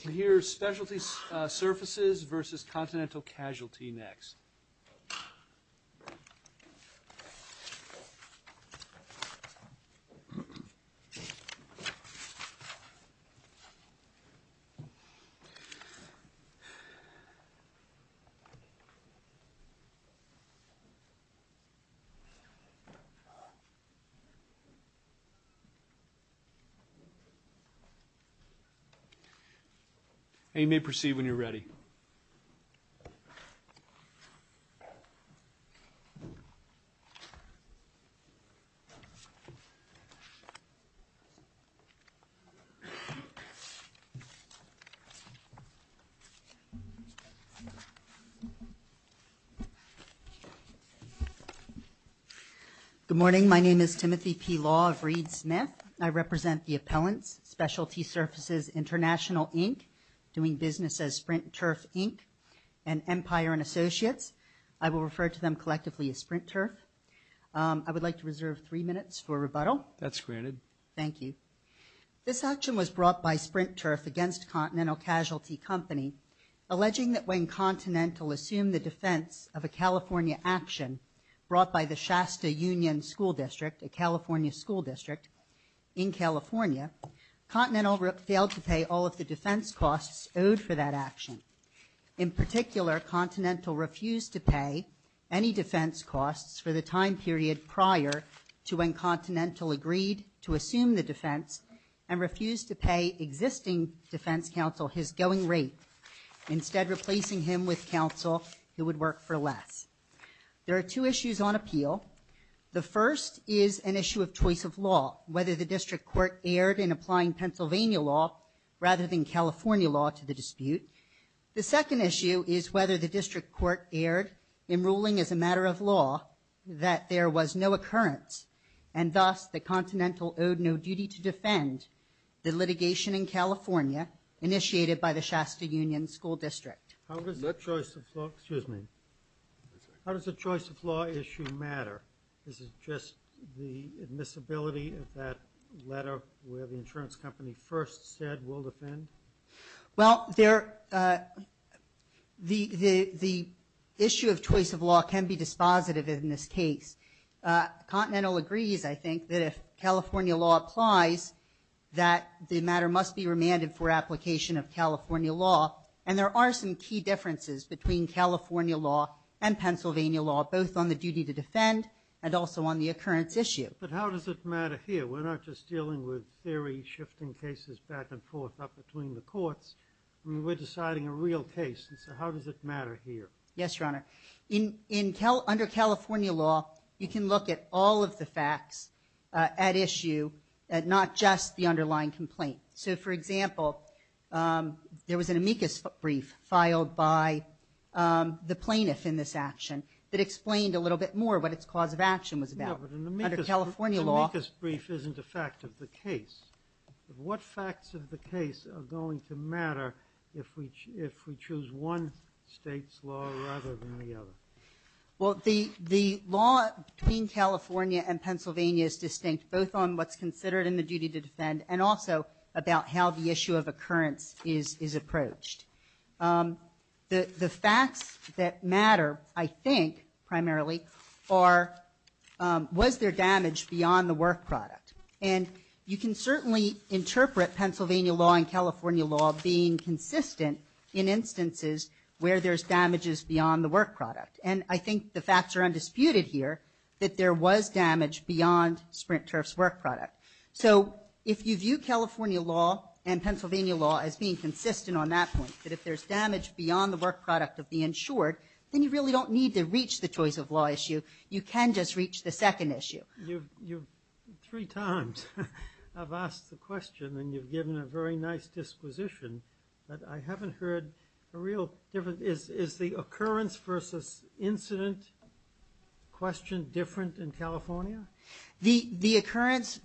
Here's Specialty Surfaces v. Continental Casualty next. You may proceed when you're ready. Good morning, my name is Timothy P. Law of Reed Smith. I represent the appellants, Specialty Surfaces International, Inc., doing business as Sprint Turf, Inc., and Empire & Associates. I will refer to them collectively as Sprint Turf. I would like to reserve three minutes for rebuttal. That's granted. Thank you. This action was brought by Sprint Turf against Continental Casualty Company, alleging that when Continental assumed the defense of a California action brought by the Shasta Union School District, a California school district in California, Continental failed to pay all of the defense costs owed for that action. In particular, Continental refused to pay any defense costs for the time period prior to when Continental agreed to assume the defense and refused to pay existing defense counsel his going rate, instead replacing him with counsel who would work for less. There are two issues on appeal. The first is an issue of choice of law, whether the district court erred in applying Pennsylvania law rather than California law to the dispute. The second issue is whether the district court erred in ruling as a matter of law that there was no occurrence, and thus that Continental owed no duty to defend the litigation in California initiated by the Shasta Union School District. How does the choice of law issue matter? Is it just the admissibility of that letter where the insurance company first said we'll defend? Well, the issue of choice of law can be dispositive in this case. Continental agrees, I think, that if California law applies, that the matter must be remanded for application of California law, and there are some key differences between California law and Pennsylvania law, both on the duty to defend and also on the occurrence issue. But how does it matter here? We're not just dealing with theory shifting cases back and forth up between the courts. I mean, we're deciding a real case, and so how does it matter here? Yes, Your Honor. Under California law, you can look at all of the facts at issue, not just the underlying complaint. So, for example, there was an amicus brief filed by the plaintiff in this action that explained a little bit more what its cause of action was about. Yeah, but an amicus brief isn't a fact of the case. What facts of the case are going to matter if we choose one state's law rather than the other? Well, the law between California and Pennsylvania is distinct, both on what's considered in the duty to defend and also about how the issue of occurrence is approached. The facts that matter, I think, primarily, are was there damage beyond the work product? And you can certainly interpret Pennsylvania law and California law being consistent in instances where there's damages beyond the work product. And I think the facts are undisputed here that there was damage beyond Sprint Turf's work product. So if you view California law and Pennsylvania law as being consistent on that point, that if there's damage beyond the work product of the insured, then you really don't need to reach the choice of law issue. You can just reach the second issue. You three times have asked the question, and you've given a very nice disposition, but I haven't heard a real difference. Is the occurrence versus incident question different in California? The occurrence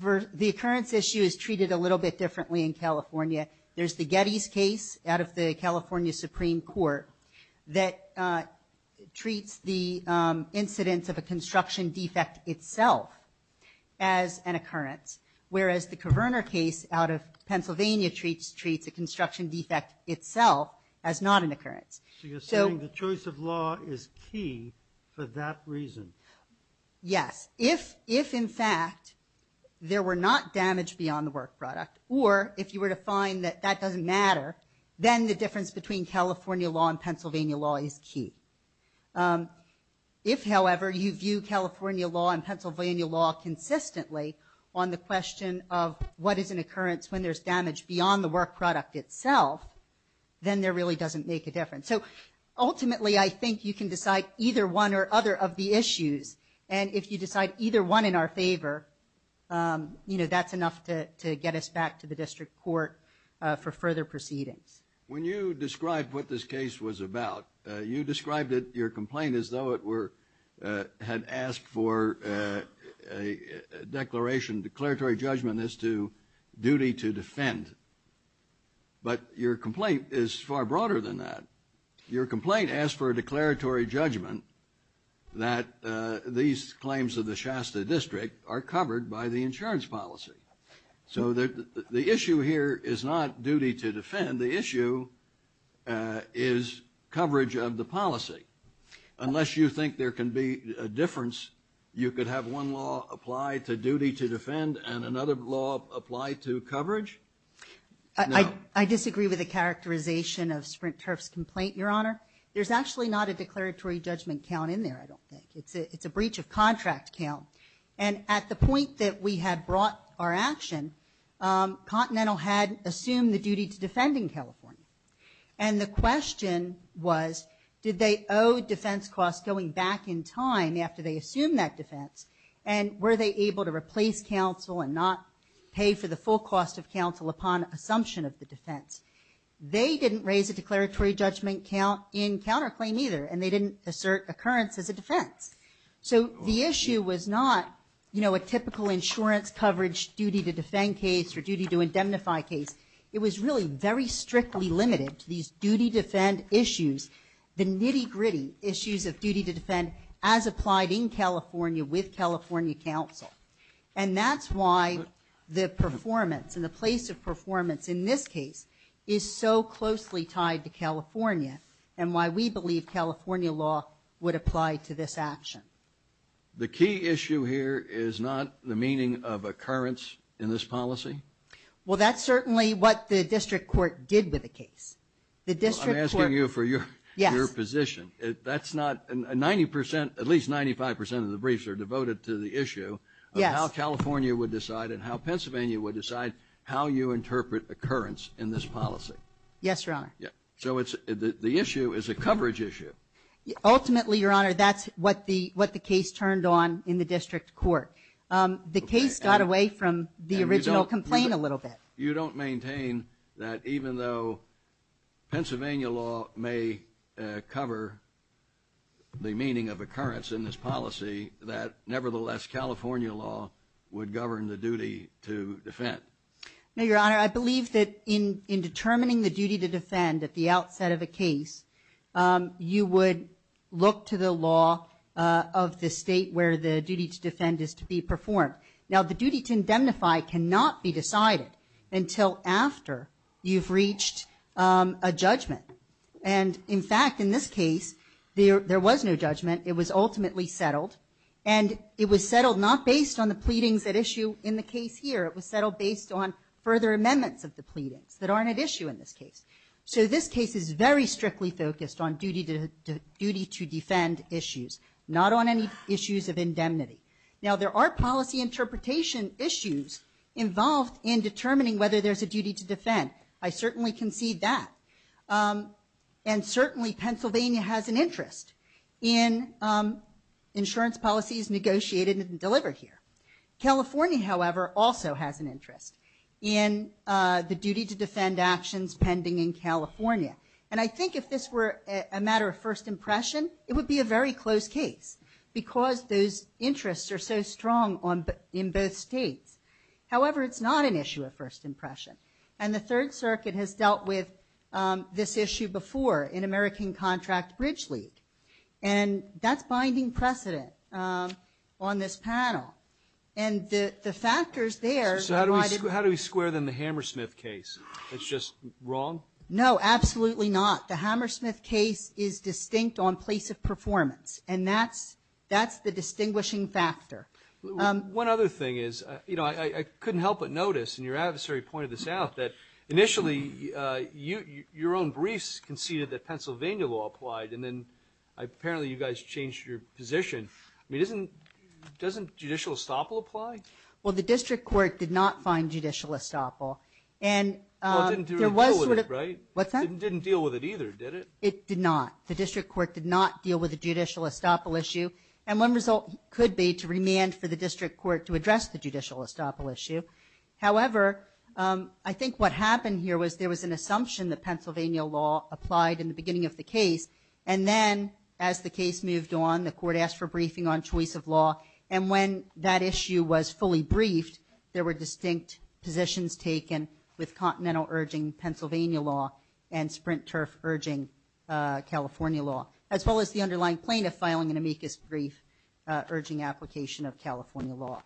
issue is treated a little bit differently in California. There's the Getty's case out of the California Supreme Court that treats the incidence of a construction defect itself as an occurrence, whereas the Coverner case out of Pennsylvania treats a construction defect itself as not an occurrence. So you're saying the choice of law is key for that reason? Yes. If, in fact, there were not damage beyond the work product, or if you were to find that that doesn't matter, then the difference between California law and Pennsylvania law is key. If, however, you view California law and Pennsylvania law consistently on the question of what is an occurrence when there's damage beyond the work product itself, then there really doesn't make a difference. So ultimately, I think you can decide either one or other of the issues, and if you decide either one in our favor, that's enough to get us back to the district court for further proceedings. When you described what this case was about, you described your complaint as though it had asked for a declaration, declaratory judgment as to duty to defend. But your complaint is far broader than that. Your complaint asked for a declaratory judgment that these claims of the Shasta district are covered by the insurance policy. So the issue here is not duty to defend. The issue is coverage of the policy. Unless you think there can be a difference, you could have one law apply to duty to defend and another law apply to coverage? No. I disagree with the characterization of Sprint Turf's complaint, Your Honor. There's actually not a declaratory judgment count in there, I don't think. It's a breach of contract count. And at the point that we had brought our action, Continental had assumed the duty to defend in California. And the question was, did they owe defense costs going back in time after they assumed that defense? And were they able to replace counsel and not pay for the full cost of counsel upon assumption of the defense? They didn't raise a declaratory judgment count in counterclaim either, and they didn't assert occurrence as a defense. So the issue was not a typical insurance coverage duty to defend case or duty to indemnify case. It was really very strictly limited to these duty to defend issues, the nitty-gritty issues of duty to defend as applied in California with California counsel. And that's why the performance and the place of performance in this case is so closely tied to California and why we believe California law would apply to this action. The key issue here is not the meaning of occurrence in this policy? Well, that's certainly what the district court did with the case. I'm asking you for your position. At least 95% of the briefs are devoted to the issue of how California would decide and how Pennsylvania would decide how you interpret occurrence in this policy. Yes, Your Honor. So the issue is a coverage issue. Ultimately, Your Honor, that's what the case turned on in the district court. The case got away from the original complaint a little bit. You don't maintain that even though Pennsylvania law may cover the meaning of occurrence in this policy, that nevertheless California law would govern the duty to defend? No, Your Honor. I believe that in determining the duty to defend at the outset of a case, you would look to the law of the state where the duty to defend is to be performed. Now, the duty to indemnify cannot be decided until after you've reached a judgment. And in fact, in this case, there was no judgment. It was ultimately settled. And it was settled not based on the pleadings at issue in the case here. It was settled based on further amendments of the pleadings that aren't at issue in this case. So this case is very strictly focused on duty to defend issues, not on any issues of indemnity. Now, there are policy interpretation issues involved in determining whether there's a duty to defend. I certainly concede that. And certainly, Pennsylvania has an interest in insurance policies negotiated and delivered here. California, however, also has an interest in the duty to defend actions pending in California. And I think if this were a matter of first impression, it would be a very close case because those interests are so strong in both states. However, it's not an issue of first impression. And the Third Circuit has dealt with this issue before in American Contract Bridge League. And that's binding precedent on this panel. And the factors there... So how do we square them the Hammersmith case? It's just wrong? No, absolutely not. The Hammersmith case is distinct on place of performance. And that's the distinguishing factor. One other thing is, you know, I couldn't help but notice, and your adversary pointed this out, that initially your own briefs conceded that Pennsylvania law applied, and then apparently you guys changed your position. I mean, doesn't judicial estoppel apply? Well, the district court did not find judicial estoppel. Well, it didn't deal with it, right? What's that? It didn't deal with it either, did it? It did not. The district court did not deal with the judicial estoppel issue. And one result could be to remand for the district court to address the judicial estoppel issue. However, I think what happened here was there was an assumption that Pennsylvania law applied in the beginning of the case. And then as the case moved on, the court asked for briefing on choice of law. And when that issue was fully briefed, there were distinct positions taken with Continental urging Pennsylvania law and Sprint Turf urging California law, as well as the underlying plaintiff filing an amicus brief urging application of California law.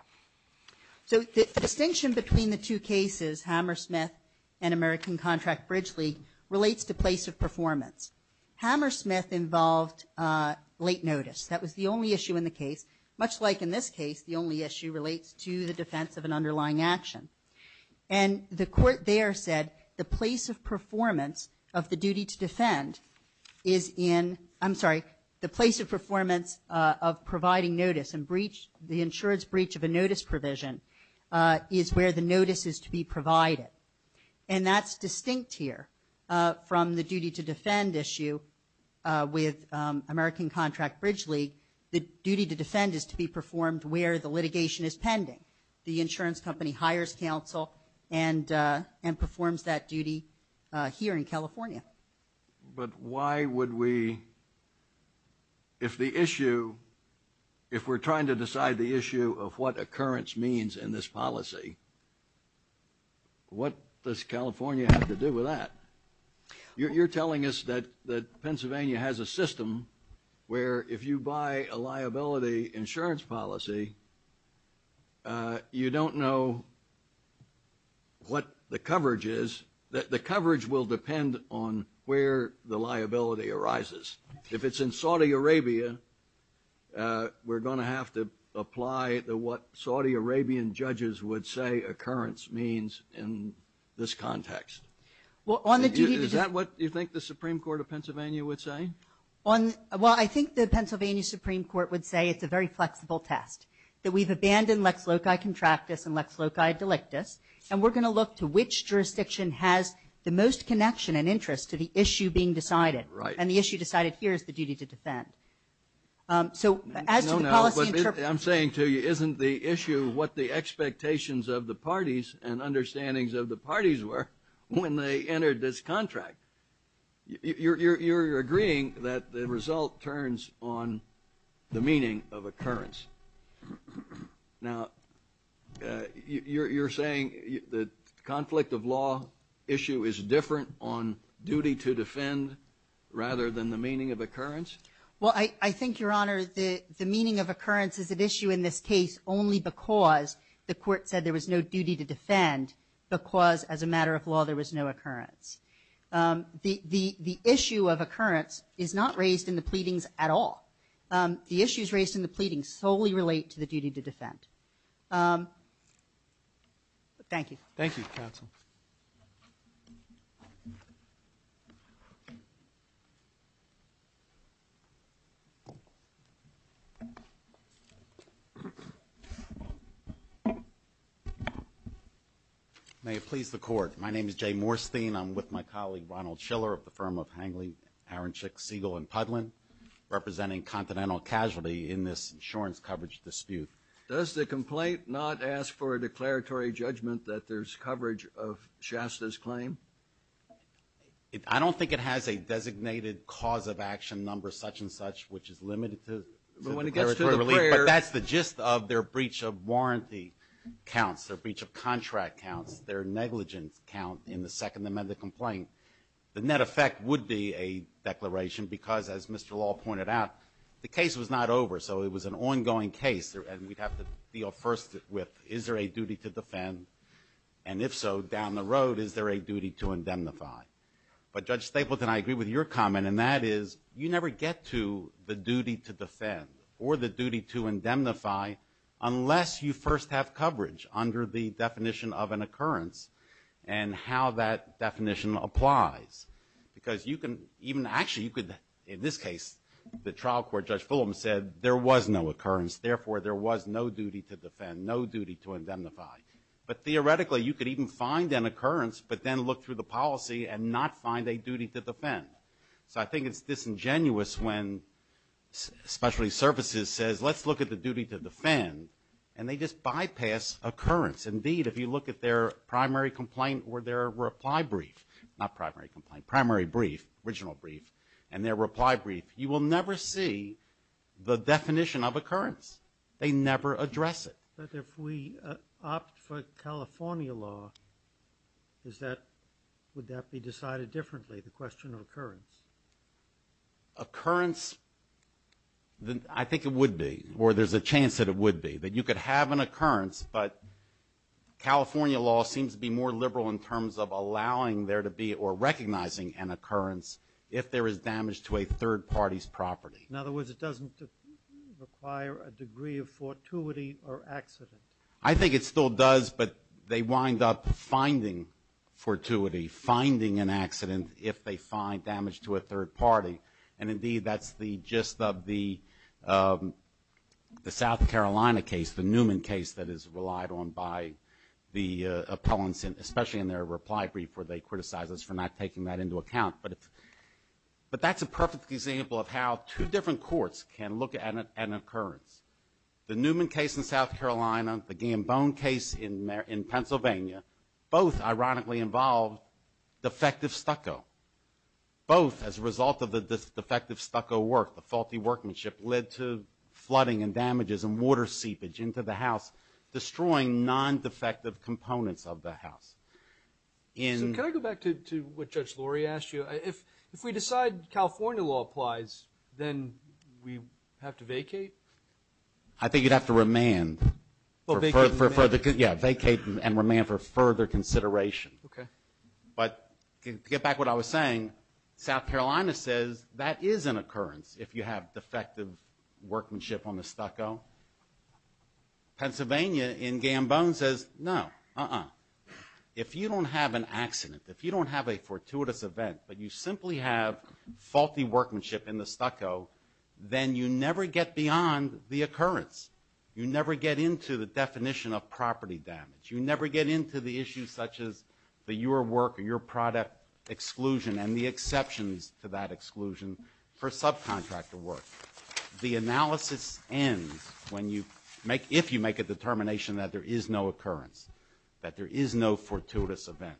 So the distinction between the two cases, Hammersmith and American Contract-Bridge League, relates to place of performance. Hammersmith involved late notice. That was the only issue in the case. Much like in this case, the only issue relates to the defense of an underlying action. And the court there said the place of performance of the duty to defend is in, I'm sorry, the place of performance of providing notice and the insurance breach of a notice provision is where the notice is to be provided. And that's distinct here from the duty to defend issue with American Contract-Bridge League. The duty to defend is to be performed where the litigation is pending. The insurance company hires counsel and performs that duty here in California. But why would we, if the issue, if we're trying to decide the issue of what occurrence means in this policy, what does California have to do with that? You're telling us that Pennsylvania has a system where if you buy a liability insurance policy, you don't know what the coverage is. The coverage will depend on where the liability arises. If it's in Saudi Arabia, we're going to have to apply what Saudi Arabian judges would say occurrence means in this context. Is that what you think the Supreme Court of Pennsylvania would say? Well, I think the Pennsylvania Supreme Court would say it's a very flexible test, that we've abandoned lex loci contractus and lex loci delictus, and we're going to look to which jurisdiction has the most connection and interest to the issue being decided. And the issue decided here is the duty to defend. So as to the policy interpretation... I'm saying to you, isn't the issue what the expectations of the parties and understandings of the parties were when they entered this contract? You're agreeing that the result turns on the meaning of occurrence. Now, you're saying the conflict of law issue is different on duty to defend rather than the meaning of occurrence? Well, I think, Your Honor, the meaning of occurrence is at issue in this case only because the court said there was no duty to defend because, as a matter of law, there was no occurrence. The issue of occurrence is not raised in the pleadings at all. The issues raised in the pleadings solely relate to the duty to defend. Thank you. Thank you, counsel. May it please the Court. My name is Jay Morstein. I'm with my colleague, Ronald Schiller, of the firm of Hangley, Aranchick, Siegel, and Pudlin, representing Continental Casualty in this insurance coverage dispute. Does the complaint not ask for a declaratory judgment that there's coverage of Shasta's claim? I don't think it has a designated cause of action number, such and such, which is limited to declaratory relief. But when it gets to the payer... But that's the gist of their breach of warranty counts, their breach of contract counts, their negligence count in the Second Amendment complaint. The net effect would be a declaration because, as Mr. Law pointed out, the case was not over, so it was an ongoing case, and we'd have to deal first with, is there a duty to defend? And if so, down the road, is there a duty to indemnify? But, Judge Stapleton, I agree with your comment, and that is you never get to the duty to defend or the duty to indemnify unless you first have coverage under the definition of an occurrence and how that definition applies. Because you can even... Actually, you could... In this case, the trial court, Judge Fulham said, there was no occurrence. Therefore, there was no duty to defend, no duty to indemnify. But theoretically, you could even find an occurrence but then look through the policy and not find a duty to defend. So I think it's disingenuous when specialty services says, let's look at the duty to defend, and they just bypass occurrence. Indeed, if you look at their primary complaint or their reply brief, not primary complaint, primary brief, original brief, and their reply brief, you will never see the definition of occurrence. They never address it. But if we opt for California law, would that be decided differently, the question of occurrence? Occurrence, I think it would be, or there's a chance that it would be, that you could have an occurrence, but California law seems to be more liberal in terms of allowing there to be or recognizing an occurrence if there is damage to a third party's property. In other words, it doesn't require a degree of fortuity or accident. I think it still does, but they wind up finding fortuity, finding an accident if they find damage to a third party. And indeed, that's the gist of the South Carolina case, the Newman case that is relied on by the appellants, especially in their reply brief, where they criticize us for not taking that into account. But that's a perfect example of how two different courts can look at an occurrence. The Newman case in South Carolina, the Gambone case in Pennsylvania, both ironically involved defective stucco. Both, as a result of the defective stucco work, the faulty workmanship, led to flooding and damages and water seepage into the house, destroying non-defective components of the house. So can I go back to what Judge Lurie asked you? If we decide California law applies, then we have to vacate? I think you'd have to remand. Well, vacate and remand. Yeah, vacate and remand for further consideration. Okay. But to get back to what I was saying, South Carolina says that is an occurrence if you have defective workmanship on the stucco. Pennsylvania, in Gambone, says no, uh-uh. If you don't have an accident, if you don't have a fortuitous event, but you simply have faulty workmanship in the stucco, then you never get beyond the occurrence. You never get into the definition of property damage. You never get into the issues such as your work or your product exclusion and the exceptions to that exclusion for subcontractor work. The analysis ends when you make, if you make a determination that there is no occurrence, that there is no fortuitous event.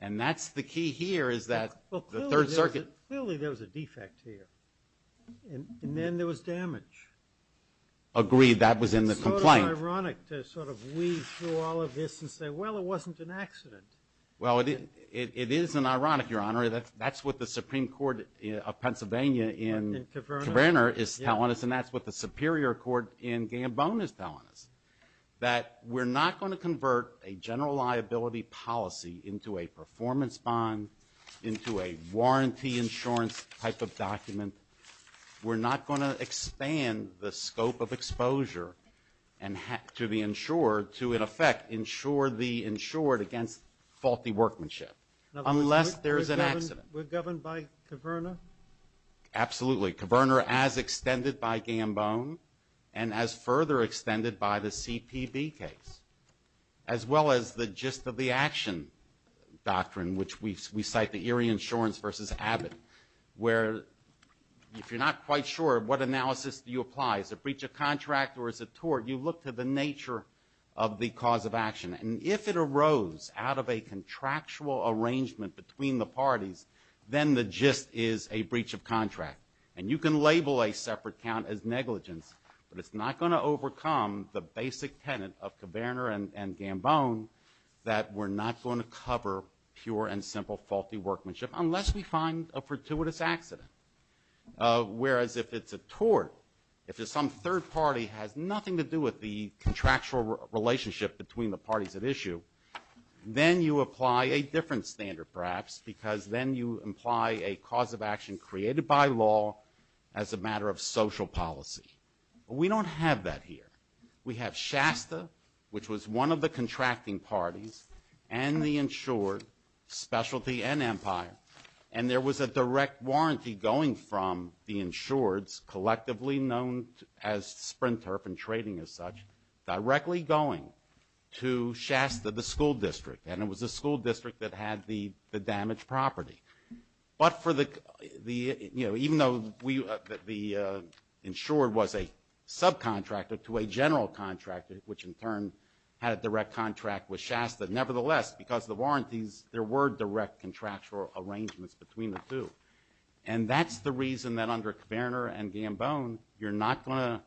And that's the key here is that the Third Circuit... Well, clearly there was a defect here. And then there was damage. Agreed. That was in the complaint. Sort of ironic to sort of weave through all of this and say, well, it wasn't an accident. Well, it is an ironic, Your Honor, that's what the Supreme Court of Pennsylvania in Cabrera is telling us, and that's what the Superior Court in Gambone is telling us, that we're not going to convert a general liability policy into a performance bond, into a warranty insurance type of document. We're not going to expand the scope of exposure to the insured to, in effect, insure the insured against faulty workmanship. Unless there's an accident. We're governed by Cabrera? Absolutely. Cabrera as extended by Gambone and as further extended by the CPB case. As well as the gist of the action doctrine, which we cite the Erie Insurance v. Abbott, where if you're not quite sure what analysis you apply, is it breach of contract or is it tort, you look to the nature of the cause of action. And if it arose out of a contractual arrangement between the parties, then the gist is a breach of contract. And you can label a separate count as negligence, but it's not going to overcome the basic tenet of Cabrera and Gambone that we're not going to cover pure and simple faulty workmanship unless we find a fortuitous accident. Whereas if it's a tort, if some third party has nothing to do with the contractual relationship between the parties at issue, then you apply a different standard, perhaps, because then you imply a cause of action created by law as a matter of social policy. We don't have that here. We have Shasta, which was one of the contracting parties, and the insured, specialty and empire, and there was a direct warranty going from the insureds, Sprinturf and Trading as such, directly going to Shasta, the school district, and it was the school district that had the damaged property. But for the, you know, even though the insured was a subcontractor to a general contractor, which in turn had a direct contract with Shasta, nevertheless, because of the warranties, there were direct contractual arrangements between the two. And that's the reason that under Cabrera and Gambone you're not going to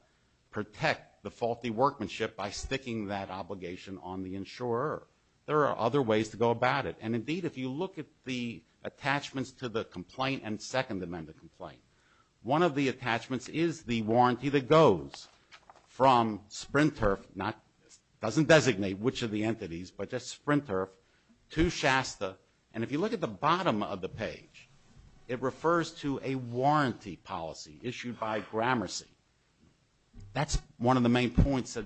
protect the faulty workmanship by sticking that obligation on the insurer. There are other ways to go about it. And indeed, if you look at the attachments to the complaint and Second Amendment complaint, one of the attachments is the warranty that goes from Sprinturf, doesn't designate which of the entities, but just Sprinturf, to Shasta, and if you look at the bottom of the page, it refers to a warranty policy issued by Gramercy. That's one of the main points that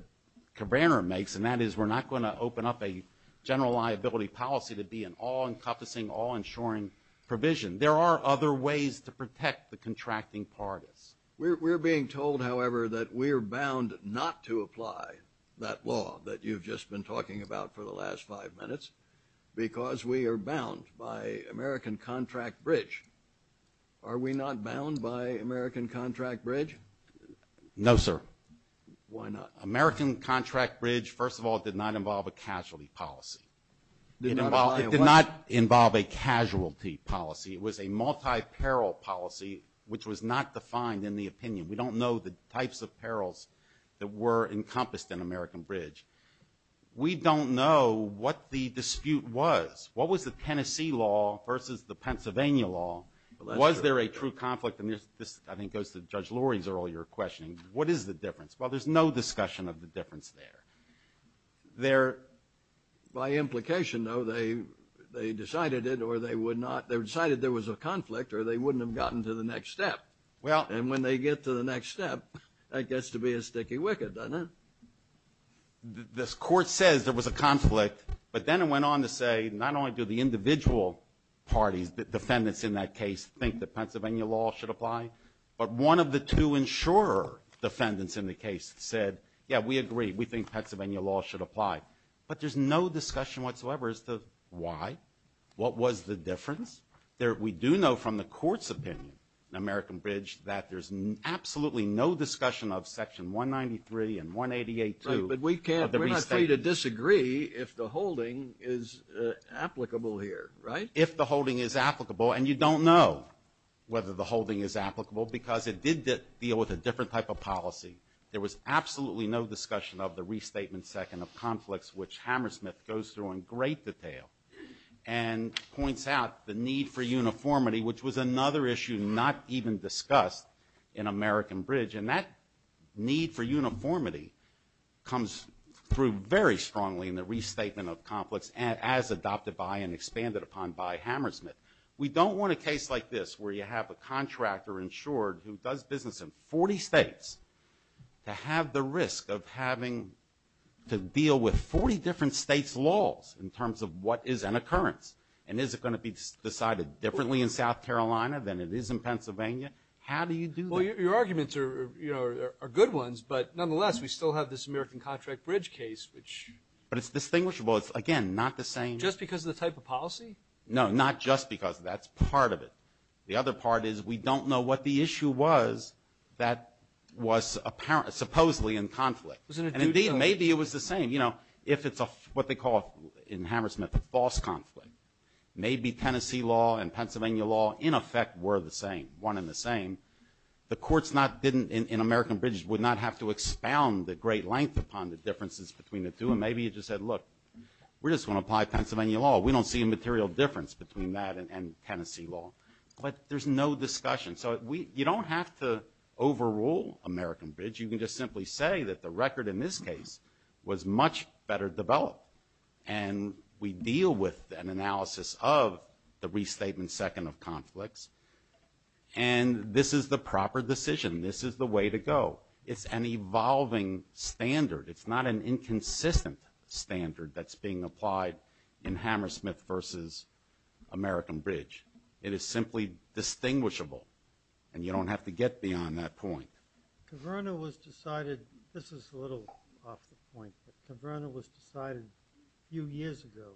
Cabrera makes, and that is we're not going to open up a general liability policy to be an all-encompassing, all-insuring provision. There are other ways to protect the contracting parties. We're being told, however, that we're bound not to apply that law that you've just been talking about for the last five minutes because we are bound by American Contract Bridge. Are we not bound by American Contract Bridge? No, sir. Why not? American Contract Bridge, first of all, did not involve a casualty policy. It did not involve a casualty policy. It was a multi-peril policy, which was not defined in the opinion. We don't know the types of perils that were encompassed in American Bridge. We don't know what the dispute was. What was the Tennessee law versus the Pennsylvania law? Was there a true conflict? And this, I think, goes to Judge Lurie's earlier question. What is the difference? Well, there's no discussion of the difference there. There... By implication, though, they decided it, or they decided there was a conflict, or they wouldn't have gotten to the next step. And when they get to the next step, that gets to be a sticky wicket, doesn't it? This Court says there was a conflict, but then it went on to say, not only do the individual parties, the defendants in that case, think that Pennsylvania law should apply, but one of the two insurer defendants in the case said, yeah, we agree, we think Pennsylvania law should apply. But there's no discussion whatsoever as to why. What was the difference? There... We do know from the Court's opinion in American Bridge that there's absolutely no discussion of Section 193 and 188-2 of the restatement. We're ready to disagree if the holding is applicable here, right? If the holding is applicable, and you don't know whether the holding is applicable, because it did deal with a different type of policy. There was absolutely no discussion of the restatement second of conflicts, which Hammersmith goes through in great detail and points out the need for uniformity, which was another issue not even discussed in American Bridge. And that need for uniformity comes through very strongly in the restatement of conflicts as adopted by and expanded upon by Hammersmith. We don't want a case like this, where you have a contractor insured who does business in 40 states to have the risk of having to deal with 40 different states' laws in terms of what is an occurrence. And is it going to be decided differently in South Carolina than it is in Pennsylvania? How do you do that? Well, your arguments are good ones, but nonetheless, we still have this American Contract Bridge case, which... But it's distinguishable. It's, again, not the same... Just because of the type of policy? No, not just because of that. It's part of it. The other part is we don't know what the issue was that was supposedly in conflict. And indeed, maybe it was the same. You know, if it's what they call in Hammersmith a false conflict, maybe Tennessee law and Pennsylvania law, in effect, were the same, one and the same. The courts in American Bridge would not have to expound the great length upon the differences between the two. And maybe it just said, look, we just want to apply Pennsylvania law. We don't see a material difference between that and Tennessee law. But there's no discussion. So you don't have to overrule American Bridge. You can just simply say that the record in this case was much better developed. And we deal with an analysis of the restatement second of conflicts. And this is the proper decision. This is the way to go. It's an evolving standard. It's not an inconsistent standard that's being applied in Hammersmith versus American Bridge. It is simply distinguishable. And you don't have to get beyond that point. Caverna was decided... This is a little off the point, but Caverna was decided a few years ago.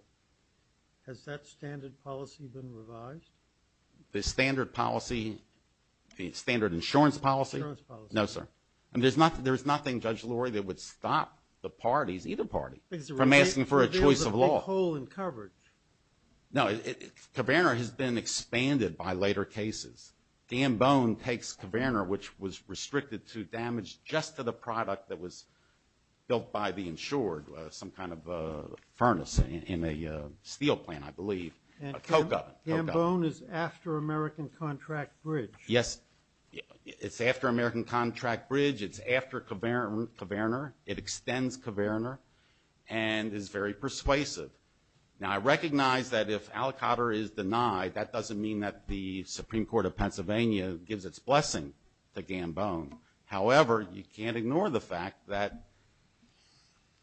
Has that standard policy been revised? The standard policy? The standard insurance policy? No, sir. I mean, there's nothing, Judge Lurie, that would stop the parties, either party, from asking for a choice of law. There's a big hole in coverage. No, Caverna has been expanded by later cases. Gambone takes Caverna, which was restricted to damage just to the product that was built by the insured, some kind of furnace in a steel plant, I believe. And Gambone is after American Contract Bridge. Yes. It's after American Contract Bridge. It's after Caverna. It extends Caverna and is very persuasive. Now, I recognize that if Alcotter is denied, that doesn't mean that the Supreme Court of Pennsylvania gives its blessing to Gambone. However, you can't ignore the fact that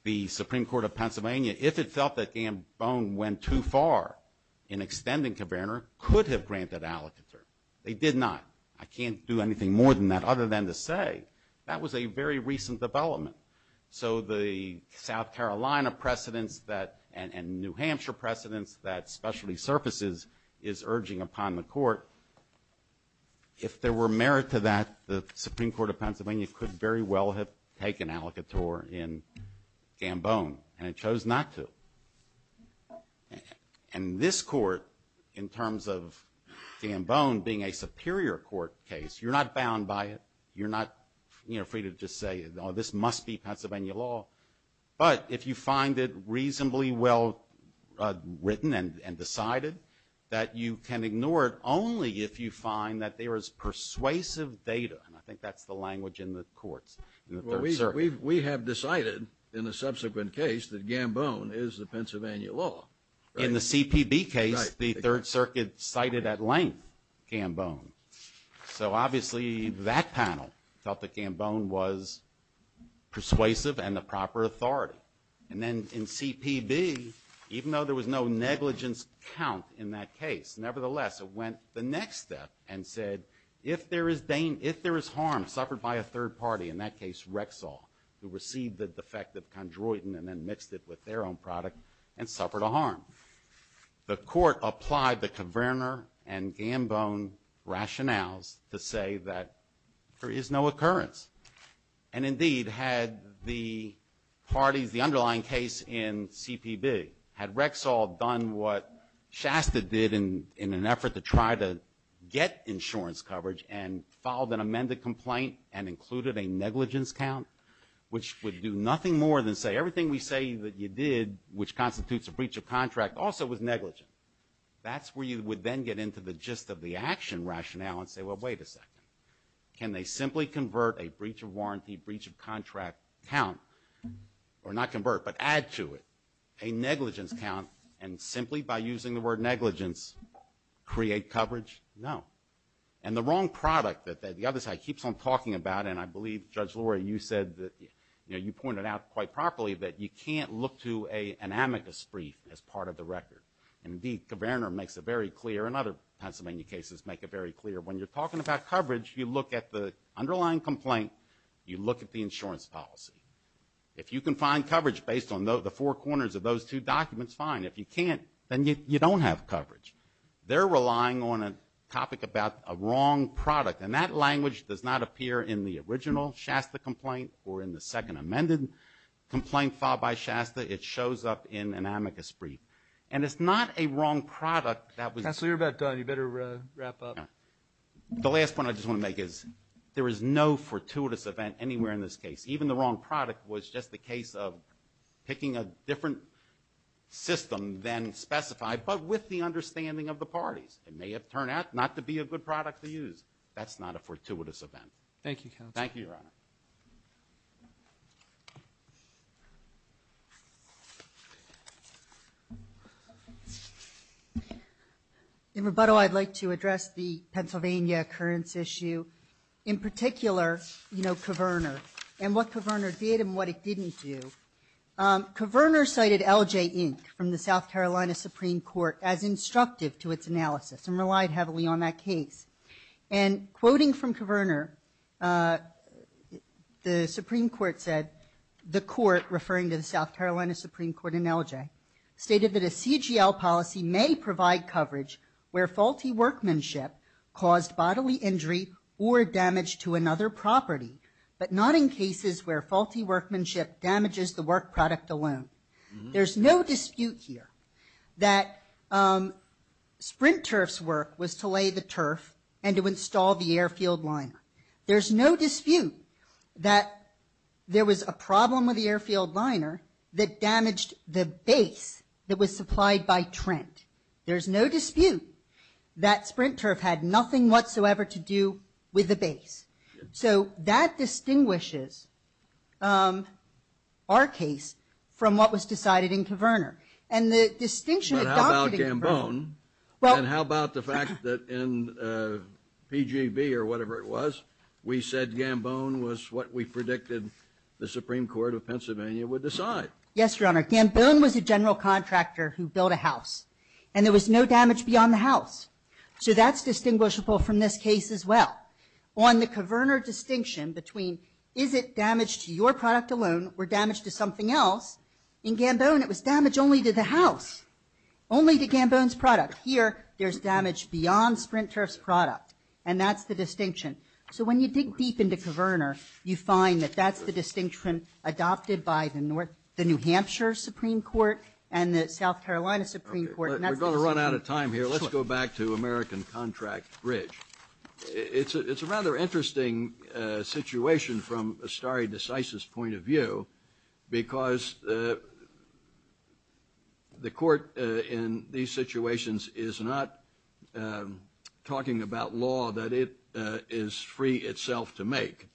the Supreme Court of Pennsylvania, if it felt that Gambone went too far in extending Caverna, could have granted Alcotter. They did not. I can't do anything more than that other than to say that was a very recent development. So the South Carolina precedents and New Hampshire precedents that specialty services is urging upon the court, if there were merit to that, the Supreme Court of Pennsylvania could very well have taken Alcottor in Gambone. And it chose not to. And this court, in terms of Gambone being a superior court case, you're not bound by it. You're not free to just say, oh, this must be Pennsylvania law. But if you find it reasonably well written and decided, that you can ignore it only if you find that there is persuasive data. And I think that's the language in the courts. We have decided in a subsequent case that Gambone is the Pennsylvania law. In the CPB case, the Third Circuit cited at length Gambone. So obviously that panel thought that Gambone was persuasive and the proper authority. And then in CPB, even though there was no negligence count in that case, nevertheless, it went the next step and said, if there is harm suffered by a third party in that case, Rexall, who received the defective chondroitin and then mixed it with their own product and suffered a harm. The court applied the Kverner and Gambone rationales to say that there is no occurrence. And indeed, had the parties, the underlying case in CPB, had Rexall done what Shasta did in an effort to try to get insurance coverage and filed an amended complaint and included a negligence count, which would do nothing more than say everything we say that you did, which constitutes a breach of contract, also was negligent. That's where you would then get into the gist of the action rationale and say, well, wait a second. Can they simply convert a breach of warranty, breach of contract count, or not convert, but add to it a negligence count and simply by using the word negligence create coverage? No. And the wrong product that the other side keeps on talking about, and I believe, Judge Laura, you said that, you know, you pointed out quite properly that you can't look to an amicus brief as part of the record. And indeed, Kverner makes it very clear, and other Pennsylvania cases make it very clear, when you're talking about coverage, you look at the underlying complaint, you look at the insurance policy. If you can find coverage based on the four corners of those two documents, fine. If you can't, then you don't have coverage. They're relying on a topic about a wrong product, and that language does not appear in the original Shasta complaint or in the second amended complaint filed by Shasta. It shows up in an amicus brief. And it's not a wrong product that was... Counselor, you're about done. You better wrap up. The last point I just want to make is there is no fortuitous event anywhere in this case. Even the wrong product was just the case of picking a different system than specified, but with the understanding of the parties. It may have turned out not to be a good product to use. That's not a fortuitous event. Thank you, Counselor. Thank you, Your Honor. In rebuttal, I'd like to address the Pennsylvania occurrence issue. In particular, you know, Coverner, and what Coverner did and what it didn't do. Coverner cited L.J. Inc. from the South Carolina Supreme Court as instructive to its analysis and relied heavily on that case. And quoting from Coverner, the Supreme Court said, the court referring to the South Carolina Supreme Court in L.J., stated that a CGL policy may provide coverage where faulty workmanship caused bodily injury or damage to another property, but not in cases where faulty workmanship damages the work product alone. There's no dispute here that Sprint Turf's work was to lay the turf and to install the airfield liner. There's no dispute that there was a problem with the airfield liner that damaged the base that was supplied by Trent. There's no dispute that Sprint Turf had nothing whatsoever to do with the base. So that distinguishes our case from what was decided in Coverner. But how about Gambone? And how about the fact that in PGB or whatever it was, we said Gambone was what we predicted the Supreme Court of Pennsylvania would decide. Yes, Your Honor. Gambone was a general contractor who built a house and there was no damage beyond the house. So that's distinguishable from this case as well. On the Coverner distinction between is it damage to your product alone or damage to something else, in Gambone it was damage only to the house, only to Gambone's product. Here there's damage beyond Sprint Turf's product and that's the distinction. So when you dig deep into Coverner, you find that that's the distinction adopted by the New Hampshire Supreme Court and the South Carolina Supreme Court. We're going to run out of time here. Let's go back to American Contract Bridge. It's a rather interesting situation from a stare decisis point of view because the court in these situations is not talking about law that it is free itself to make.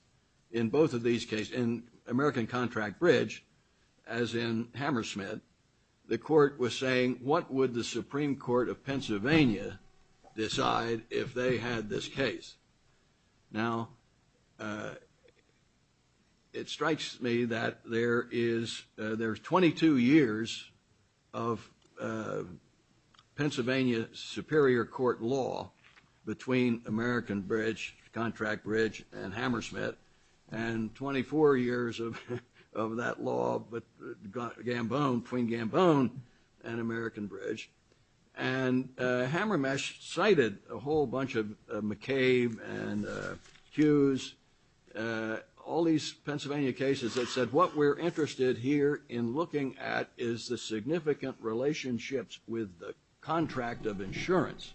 In both of these cases, in American Contract Bridge, as in Hammersmith, the court was saying what would the Supreme Court of Pennsylvania decide if they had this case? Now, it strikes me that there's 22 years of Pennsylvania Superior Court law between American Bridge, Contract Bridge, and Hammersmith, and 24 years of that law between Gambone and American Bridge. And Hammermesh cited a whole bunch of McCabe and Hughes, all these Pennsylvania cases that said what we're interested here in looking at is the significant relationships with the contract of insurance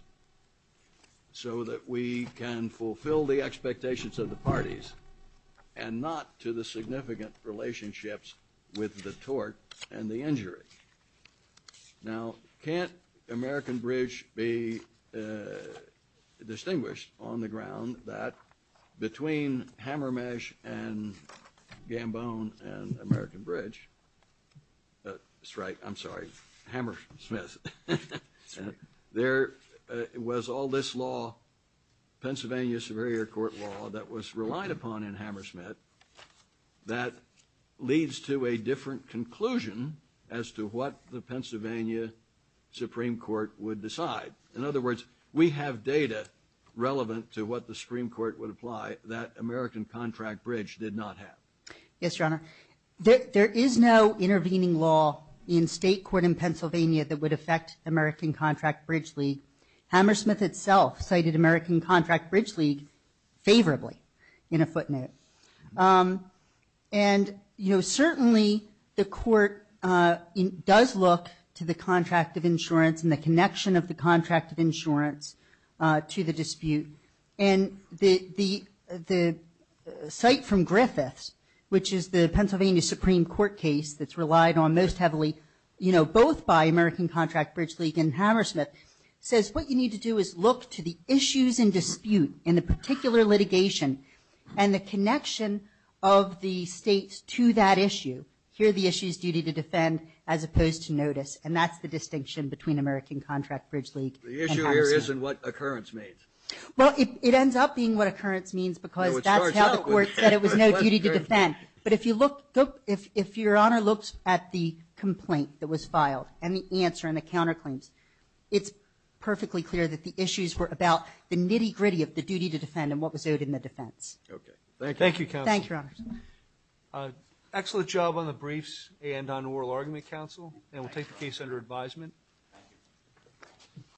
so that we can fulfill the expectations of the parties and not to the significant relationships with the tort and the injury. Now, can't American Bridge be distinguished on the ground that between Hammermesh and Gambone and American Bridge – that's right, I'm sorry, Hammersmith – there was all this law, Pennsylvania Superior Court law, that was relied upon in Hammersmith that leads to a different conclusion as to what the Pennsylvania Supreme Court would decide. In other words, we have data relevant to what the Supreme Court would apply that American Contract Bridge did not have. Yes, Your Honor. There is no intervening law in state court in Pennsylvania that would affect American Contract Bridge League. Hammersmith itself cited American Contract Bridge League favorably in a footnote. And, you know, certainly the court does look to the contract of insurance and the connection of the contract of insurance to the dispute. And the cite from Griffiths, which is the Pennsylvania Supreme Court case that's relied on most heavily, you know, both by American Contract Bridge League and Hammersmith, says what you need to do is look to the issues in dispute in the particular litigation and the connection of the states to that issue. Here the issue is duty to defend as opposed to notice. And that's the distinction between American Contract Bridge League and Hammersmith. The issue here isn't what occurrence means. Well, it ends up being what occurrence means because that's how the court said it was no duty to defend. But if you look, if Your Honor looks at the complaint that was filed and the answer and the counterclaims, it's perfectly clear that the issues were about the nitty-gritty of the duty to defend and what was owed in the defense. Okay. Thank you. Thank you, counsel. Thank you, Your Honor. Excellent job on the briefs and on oral argument, counsel. And we'll take the case under advisement. Thank you.